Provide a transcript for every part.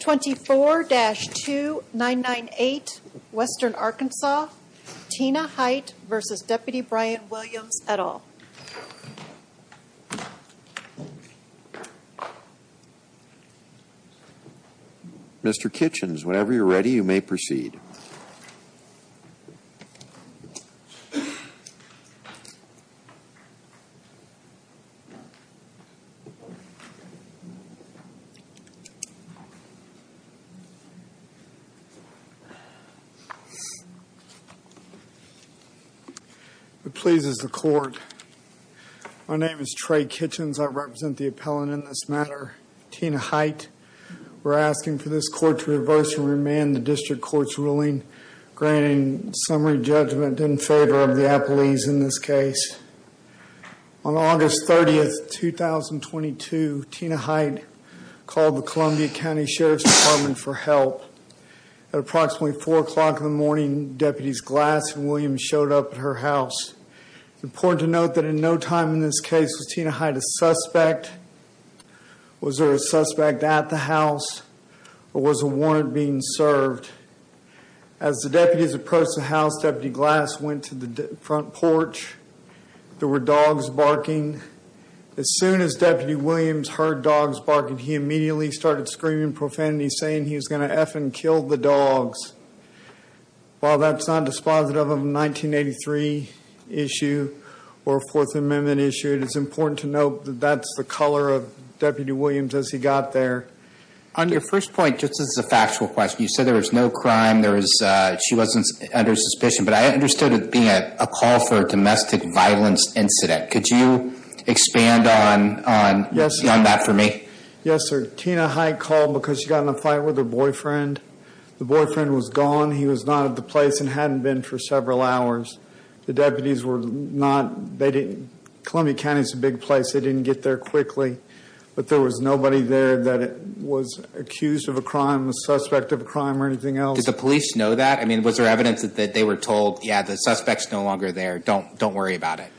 24-2998 Western Arkansas, Tina Hight v. Deputy Brian Williams et al. Michael Mister Kitchens. here ready. You may proceed. It pleases the court. My name is Trey Kitchens. I represent the appellant in this matter. Tina Height. We're asking for this court to reverse and remand the district court's ruling. Granting summary judgment in favor of the appellees in this case. On August 30th, 2022, Tina Height called the Columbia County Sheriff's Department for help. Approximately 4 o'clock in the morning, deputies Glass and Williams showed up at her house. Important to note that in no time in this case, Tina Height a suspect. Was there a suspect at the house or was a warrant being served? As the deputies approached the house, deputy Glass went to the front porch. There were dogs barking. As soon as deputy Williams heard dogs barking, he immediately started screaming profanity, saying he was going to F and kill the dogs. While that's not dispositive of a 1983 issue or 4th Amendment issue, it is important to note that that's the color of deputy Williams as he got there. On your first point, just as a factual question, you said there was no crime. There was she wasn't under suspicion, but I understood it being a call for domestic violence incident. Could you expand on that for me? Yes, sir. Tina Height called because she got in a fight with her The boyfriend was gone. He was not at the place and hadn't been for several hours. The deputies were not. They didn't. Columbia County is a big place. They didn't get there quickly. But there was nobody there that was accused of a crime, a suspect of a crime or anything else. Did the police know that? I mean, was there evidence that they were told? Yeah, the suspects no longer there. Don't don't worry about it.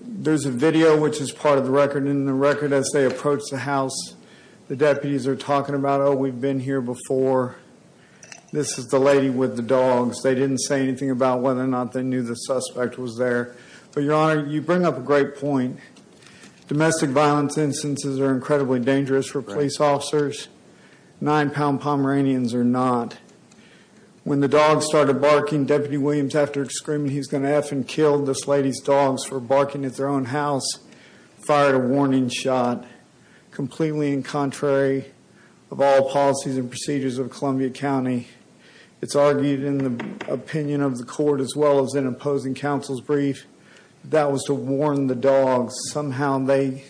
There's a video which is part of the record in the record as they approach the house. The deputies are talking about. Oh, we've been here before. This is the lady with the dogs. They didn't say anything about whether or not they knew the suspect was there. But your Honor, you bring up a great point. Domestic violence instances are incredibly dangerous for police officers. Nine-pound Pomeranians are not. When the dog started barking, Deputy Williams after screaming he's going to F and kill this lady's dogs for barking at their own house, fired a warning shot completely in contrary of all policies and procedures of Columbia County. It's argued in the opinion of the court as well as in opposing counsel's brief that was to warn the dogs. Somehow they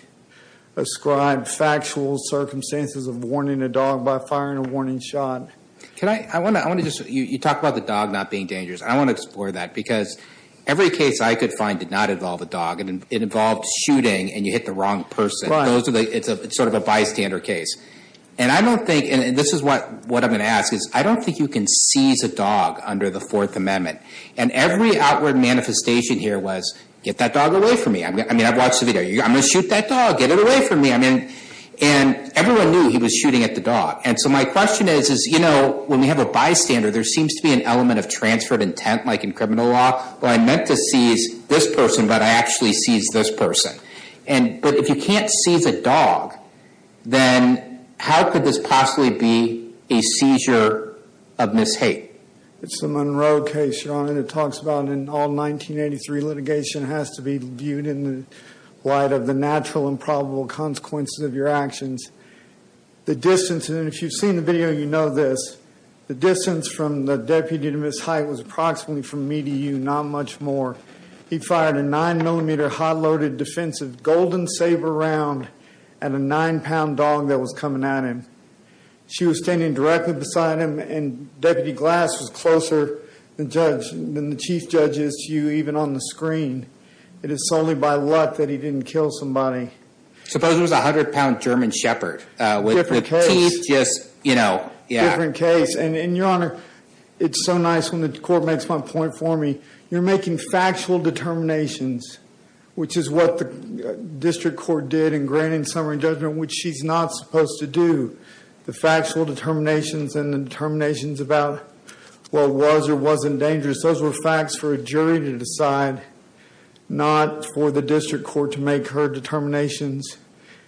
ascribed factual circumstances of warning a dog by firing a warning shot. Can I I want to I want to just you you talk about the dog not being dangerous. I want to explore that because every case I could find did not involve a dog and it involved shooting and you hit the wrong person. It's a sort of a bystander case and I don't think and this is what what I'm going to ask is I don't think you can seize a dog under the Fourth Amendment and every outward manifestation here was get that dog away from me. I mean, I've watched the video. I'm going to shoot that dog. Get it away from me. I mean, and everyone knew he was shooting at the dog. And so my question is, is, you know, when we have a bystander there seems to be an element of transferred intent like in criminal law. Well, I meant to seize this person, but I actually seized this person and but if you can't seize a dog, then how could this possibly be a seizure of Ms. It's the Monroe case your honor that talks about in all 1983 litigation has to be viewed in the light of the natural and probable consequences of your actions. The distance and if you've seen the video, you know, this the distance from the deputy to his height was approximately from me to you. Not much more. He fired a nine millimeter hot loaded defensive Golden Sabre round and a nine pound dog that was coming at him. She was standing directly beside him and deputy glass was closer than judge than the chief judges to you even on the screen. It is solely by luck that he didn't kill somebody suppose it was a hundred pound German Shepherd with just, you know, different case. And your honor, it's so nice when the court makes my point for me, you're making factual determinations, which is what the district court did in granting summary judgment, which she's not supposed to do the factual determinations and determinations about what was or wasn't dangerous. Those were facts for a jury to decide not for the district court to make her determinations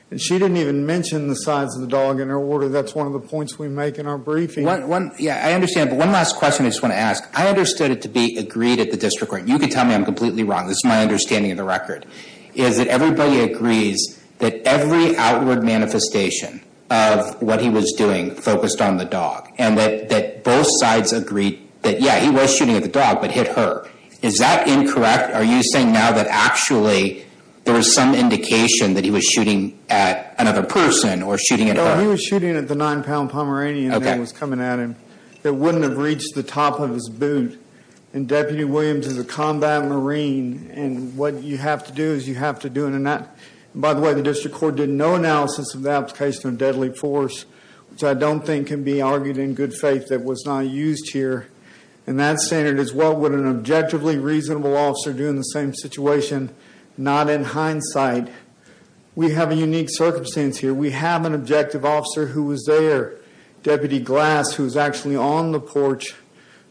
and she didn't even mention the size of the dog in her order. That's one of the points we make in our briefing. What one? Yeah, I understand. But one last question. I just want to ask I understood it to be agreed at the district court. You can tell me I'm completely wrong. This is my understanding of the record is that everybody agrees that every outward manifestation of what he was doing focused on the dog and that both sides agreed that yeah, he was shooting at the dog but hit her. Is that incorrect? Are you saying now that actually there was some indication that he was shooting at another person or shooting at her? He was shooting at the nine-pound Pomeranian that was coming at him. It wouldn't have reached the top of his boot and Deputy Williams is a combat Marine and what you have to do is you have to do it and that by the way, the district court did no analysis of the application of deadly force, which I don't think can be argued in good faith that was not used here and that standard is what would an objectively reasonable officer do in the same situation not in hindsight. We have a unique circumstance here. We have an objective officer who was there Deputy Glass who's actually on the porch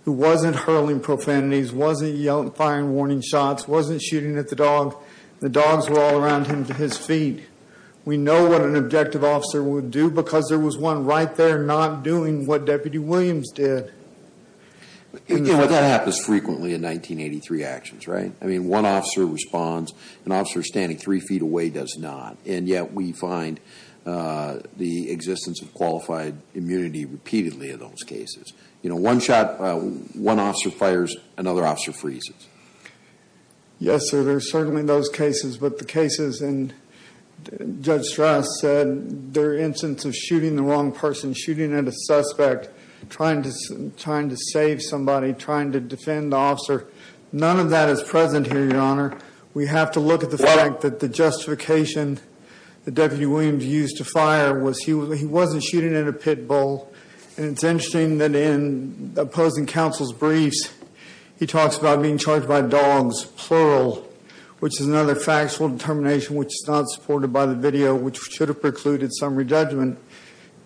who wasn't hurling profanities wasn't yelling firing warning shots wasn't shooting at the dog. The dogs were all around him to his feet. We know what an objective officer would do because there was one right there not doing what Deputy Williams did. That happens frequently in 1983 actions, right? I mean one officer responds an officer standing three feet away does not and yet we find the existence of qualified immunity repeatedly in those cases, you know one shot one officer fires another officer freezes. Yes, sir. There's certainly those cases but the cases and Judge Strass said their instance of shooting the wrong person shooting at a suspect trying to trying to save somebody trying to defend the officer. None of that is present here. Your Honor. We have to look at the fact that the justification the deputy Williams used to fire was he was he wasn't shooting at a pit bull and it's interesting that in opposing counsel's briefs. He talks about being charged by dogs plural, which is another factual determination, which is not supported by the video which should have precluded summary judgment.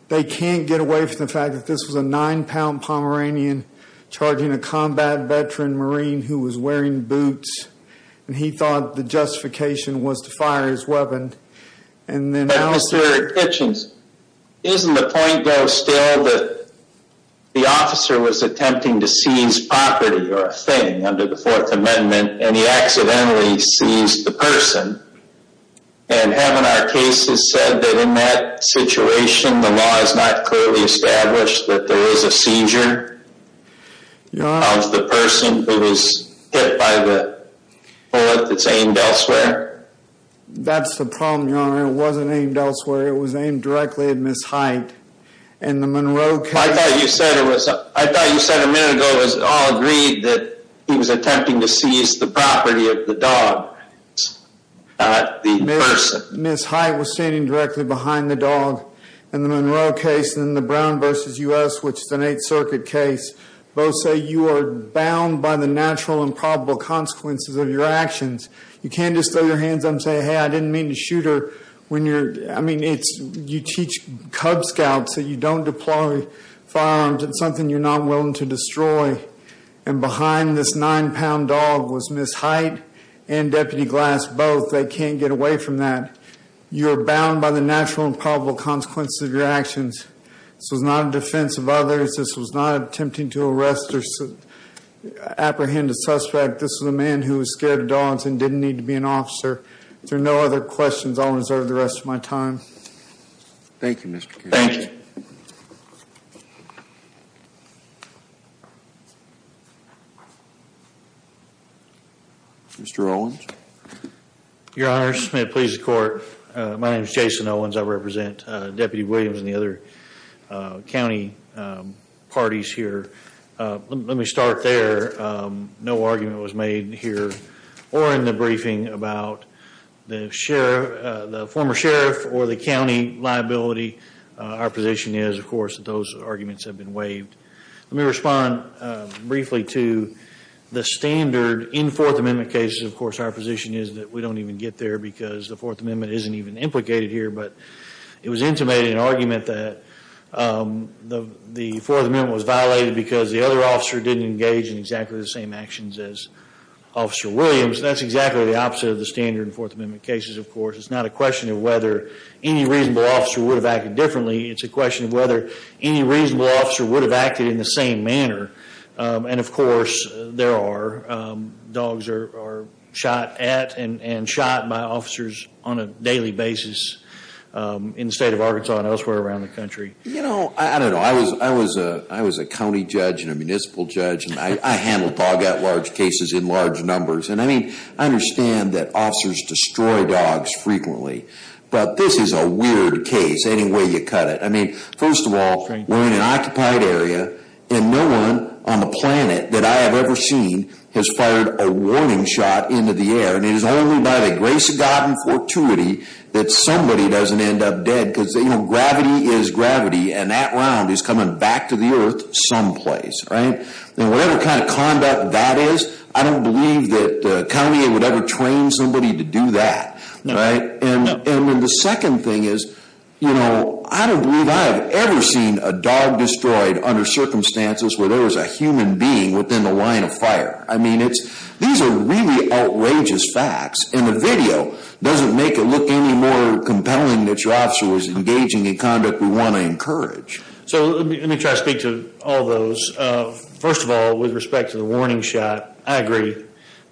They can't get away from the fact that this was a nine-pound Pomeranian charging a combat veteran Marine who was wearing boots and he thought the justification was to fire his And then I was here at kitchens. Isn't the point go still that the officer was attempting to seize property or a thing under the Fourth Amendment and he accidentally seized the person and having our cases said that in that situation the law is not clearly established that there is a seizure. You know, I was the person who was hit by the bullet. That's aimed elsewhere. That's the problem. Your Honor. It wasn't aimed elsewhere. It was aimed directly at Miss Height and the Monroe case. I thought you said it was I thought you said a minute ago was all agreed that he was attempting to seize the property of the dog. Miss Height was standing directly behind the dog and the Monroe case in the Brown vs. Us, which is an 8th Circuit case both say you are bound by the natural and probable consequences of your actions. You can't just throw your hands. I'm saying hey, I didn't mean to shoot her when you're I mean, it's you teach Cub Scouts that you don't deploy firearms and something you're not willing to destroy and behind this nine-pound dog was Miss Height and deputy glass both. They can't get away from that. You're bound by the natural and probable consequences of your actions. This was not a defense of others. This was not attempting to arrest or apprehend a suspect. This is a man who was scared of dogs and didn't need to be an officer. There are no other questions. I'll reserve the rest of my time. Thank you, Mr. Thank you. Mr. Owens. Your Honor Smith please the court. My name is Jason Owens. I represent Deputy Williams and the other County parties here. Let me start there. No argument was made here or in the briefing about the sheriff the former sheriff or the County liability. Our position is of course that those arguments have been waived. Let me respond briefly to the standard in Fourth Amendment cases. Of course, our position is that we don't even get there because the Fourth Amendment isn't even implicated here, but it was intimated an argument that the Fourth Amendment was violated because the other officer didn't engage in exactly the same actions as officer Williams. That's exactly the opposite of the standard in Fourth Amendment cases. Of course, it's not a question of whether any reasonable officer would have acted differently. It's a question of whether any reasonable officer would have acted in the same manner. And of course there are dogs are shot at and shot by officers. On a daily basis in the state of Arkansas and elsewhere around the country. You know, I don't know. I was I was a I was a County judge and a municipal judge and I handled all got large cases in large numbers. And I mean, I understand that officers destroy dogs frequently, but this is a weird case. Anyway, you cut it. I mean, first of all, we're in an occupied area and no one on the planet that I have ever seen has fired a warning shot into the air and it is only by the grace of God and fortuity that somebody doesn't end up dead because they know gravity is gravity and that round is coming back to the earth someplace, right? And whatever kind of conduct that is. I don't believe that the county would ever train somebody to do that. Right? And the second thing is, you know, I don't believe I have ever seen a dog destroyed under circumstances where there is a human being within the line of fire. I mean, it's these are really outrageous facts and the video doesn't make it look any more compelling that your officer was engaging in conduct. We want to encourage. So let me try to speak to all those. First of all, with respect to the warning shot, I agree.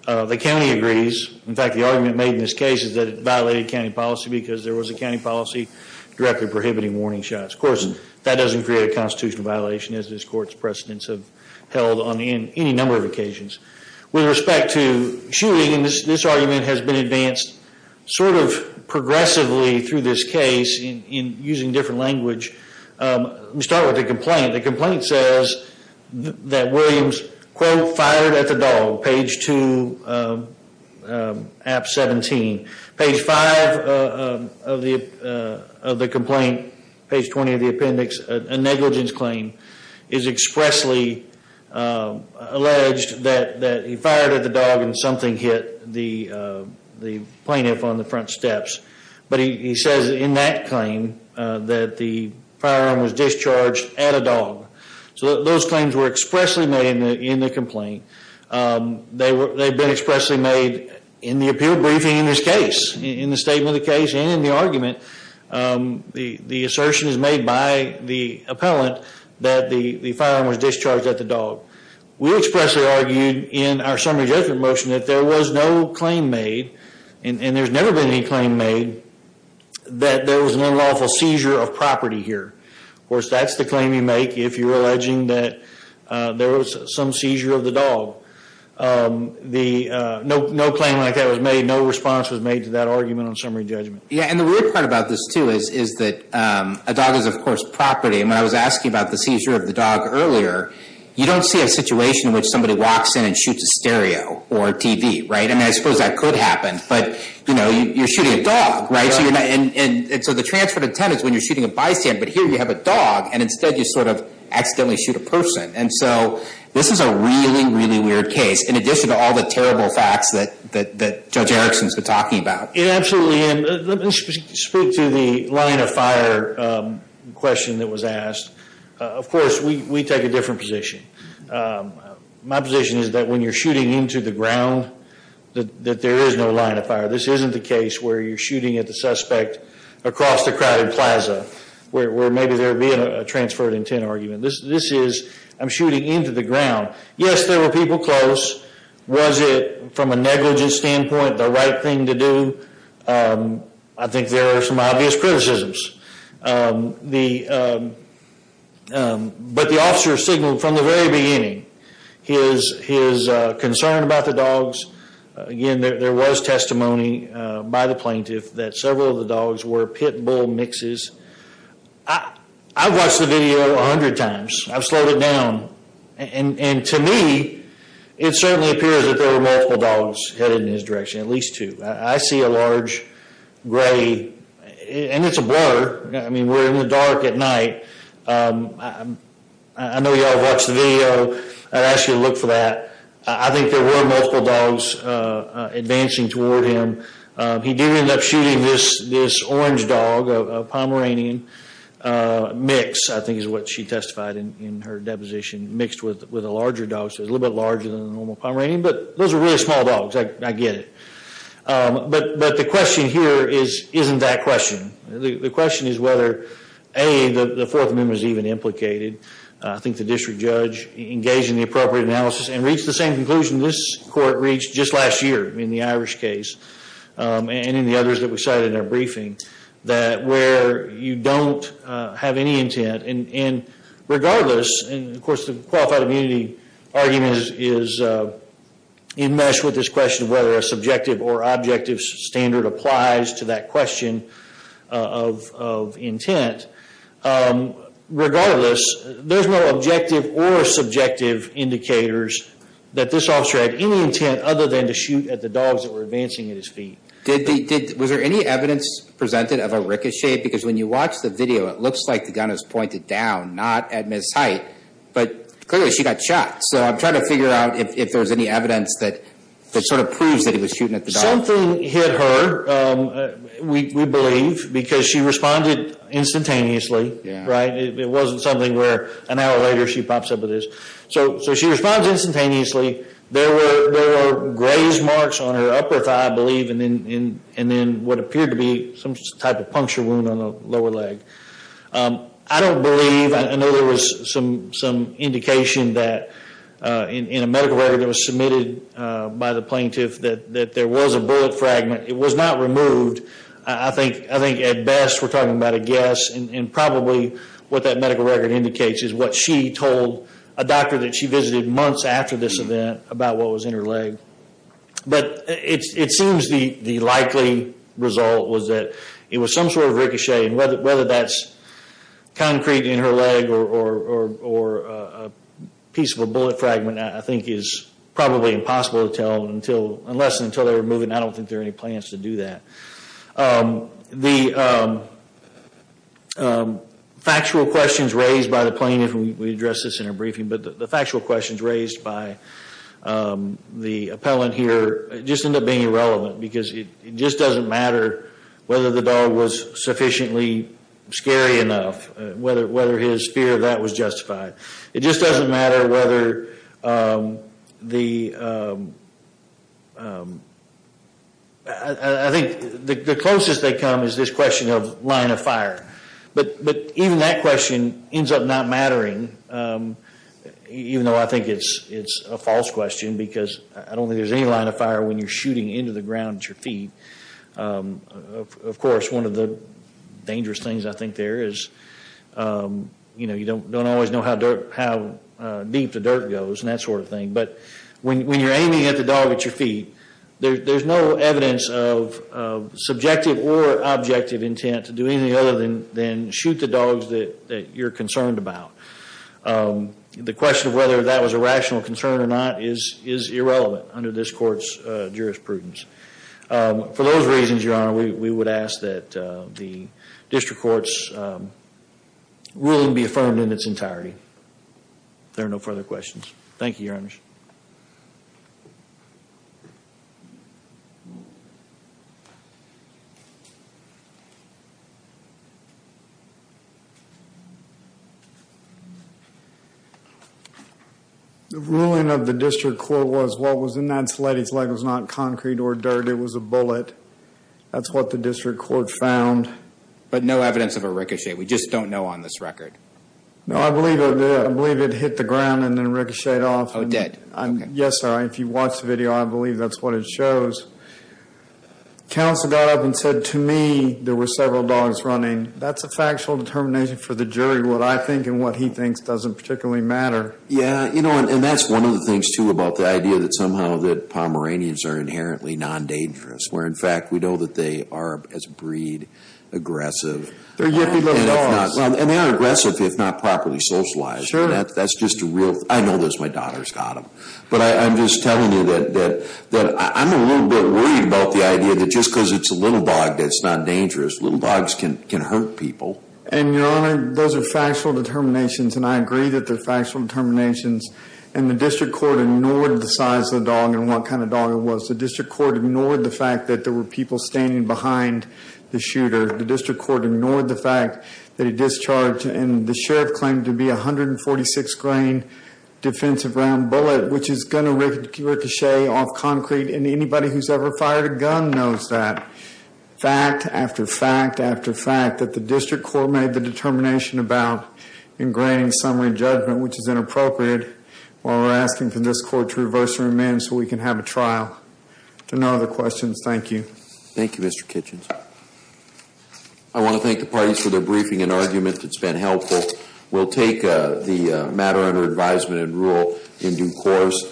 The county agrees. In fact, the argument made in this case is that it violated county policy because there was a county policy directly prohibiting warning shots. Of course, that doesn't create a constitutional violation as this court's precedents have held on any number of occasions with respect to shooting. And this argument has been advanced sort of progressively through this case in using different language. We start with the complaint. The complaint says that Williams quote fired at the dog page 2, app 17, page 5 of the complaint, page 20 of the complaint is expressly alleged that he fired at the dog and something hit the plaintiff on the front steps. But he says in that claim that the firearm was discharged at a dog. So those claims were expressly made in the complaint. They've been expressly made in the appeal briefing in this case, in the statement of the case and in the argument. The assertion is made by the appellant that the firearm was discharged at the dog. We expressly argued in our summary judgment motion that there was no claim made and there's never been any claim made that there was an unlawful seizure of property here. Of course, that's the claim you make if you're alleging that there was some seizure of the dog. No claim like that was made. No response was made to that argument on summary judgment. Yeah, and the weird part about this too is that a dog is of course property. And when I was asking about the seizure of the dog earlier, you don't see a situation in which somebody walks in and shoots a stereo or TV, right? I mean, I suppose that could happen, but you know, you're shooting a dog, right? So you're not, and so the transfer to 10 is when you're shooting a bystander, but here you have a dog and instead you sort of accidentally shoot a person. And so this is a really, really weird case. In addition to all the terrible facts that Judge Erickson's been talking about. It absolutely, and let me speak to the line of fire question that was asked. Of course, we take a different position. My position is that when you're shooting into the ground, that there is no line of fire. This isn't the case where you're shooting at the suspect across the crowded Plaza, where maybe there being a transfer to 10 argument. This is, I'm shooting into the ground. Yes, there were people close. Was it from a negligent standpoint, the right thing to I think there are some obvious criticisms. The but the officer signal from the very beginning. He is concerned about the dogs. Again. There was testimony by the plaintiff that several of the dogs were pit bull mixes. I've watched the video a hundred times. I've slowed it down. And to me, it certainly appears that there were multiple dogs headed in his direction, at least two. I see a large gray, and it's a blur. I mean, we're in the dark at night. I know y'all have watched the video. I'd ask you to look for that. I think there were multiple dogs advancing toward him. He did end up shooting this orange dog, a Pomeranian mix. I think is what she testified in her deposition, mixed with a larger dog. So it's a little bit larger than a normal Pomeranian, but those are really small dogs. I get it. But the question here isn't that question. The question is whether, A, the Fourth Amendment is even implicated. I think the district judge engaged in the appropriate analysis and reached the same conclusion this court reached just last year in the Irish case and in the others that we cited in our briefing, that where you don't have any intent and regardless, and of course, the qualified immunity argument is enmeshed with this question of whether a subjective or objective standard applies to that question of intent. Regardless, there's no objective or subjective indicators that this officer had any intent other than to shoot at the dogs that were advancing at his feet. Was there any evidence presented of a ricochet? Because when you watch the video, it looks like the gun is pointed down, not at Ms. Height, but clearly she got shot. So I'm trying to figure out if there's any evidence that sort of proves that he was shooting at the dog. Something hit her, we believe, because she responded instantaneously, right? It wasn't something where an hour later she pops up with this. So she responds instantaneously. There were graze marks on her upper thigh, I believe, and then what appeared to be some type of puncture wound on the lower leg. I don't believe, I know there was some indication that in a medical record that was submitted by the plaintiff that there was a bullet fragment. It was not removed. I think at best we're talking about a guess and probably what that medical record indicates is what she told a doctor that she visited months after this event about what was in her leg. But it seems the likely result was that it was some sort of ricochet and whether that's concrete in her leg or a piece of a bullet fragment, I think is probably impossible to tell unless and until they were moving. I don't think there are any plans to do that. The factual questions raised by the plaintiff, and we addressed this in our briefing, but the factual questions raised by the appellant here just end up being irrelevant because it just doesn't matter whether the dog was sufficiently scary enough, whether his fear of that was justified. It just doesn't matter whether the, I think the closest they come is this question of line of fire, but even that question ends up not mattering, even though I think it's a false question because I don't think there's any line of fire when you're shooting into the ground at your feet. Of course, one of the dangerous things I think there is, you know, you don't always know how deep the dirt goes and that sort of thing, but when you're aiming at the dog at your feet, there's no evidence of subjective or objective intent to do anything other than shoot the dogs that you're concerned about. The question of whether that was a rational concern or not is irrelevant under this court's jurisprudence. For those reasons, Your Honor, we would ask that the district court's ruling be affirmed in its entirety. If there are no further questions. Thank you, Your Honors. The ruling of the district court was what was in that leg was not concrete or dirt. It was a bullet. That's what the district court found. But no evidence of a ricochet. We just don't know on this record. No, I believe it. I believe it hit the ground and then ricocheted off. Oh, it did. Yes, sir. If you watch the video, I believe that's what it shows. Counsel got up and said to me, there were several dogs running. That's a factual determination for the jury. What I think and what he thinks doesn't particularly matter. Yeah, you know, and that's one of the things too about the idea that somehow that Pomeranians are inherently non-dangerous. Where in fact, we know that they are as breed aggressive. They're yippy little dogs. And they are aggressive if not properly socialized. Sure. That's just a real, I know this, my daughter's got them. But I'm just telling you that I'm a little bit worried about the idea that just because it's a little dog, that's not dangerous. Little dogs can hurt people. And Your Honor, those are factual determinations and I agree that they're factual determinations and the district court ignored the size of the dog and what kind of dog it was. The district court ignored the fact that there were people standing behind the shooter. The district court ignored the fact that he discharged and the sheriff claimed to be 146 grain defensive round bullet, which is going to ricochet off concrete and anybody who's ever fired a gun knows that. Fact after fact after fact that the district court made the determination about ingraining summary judgment, which is inappropriate while we're asking for this court to reverse and remand so we can have a trial. To no other questions. Thank you. Thank you, Mr. Kitchens. I want to thank the parties for their briefing and argument that's been helpful. We'll take the matter under advisement and rule in due course.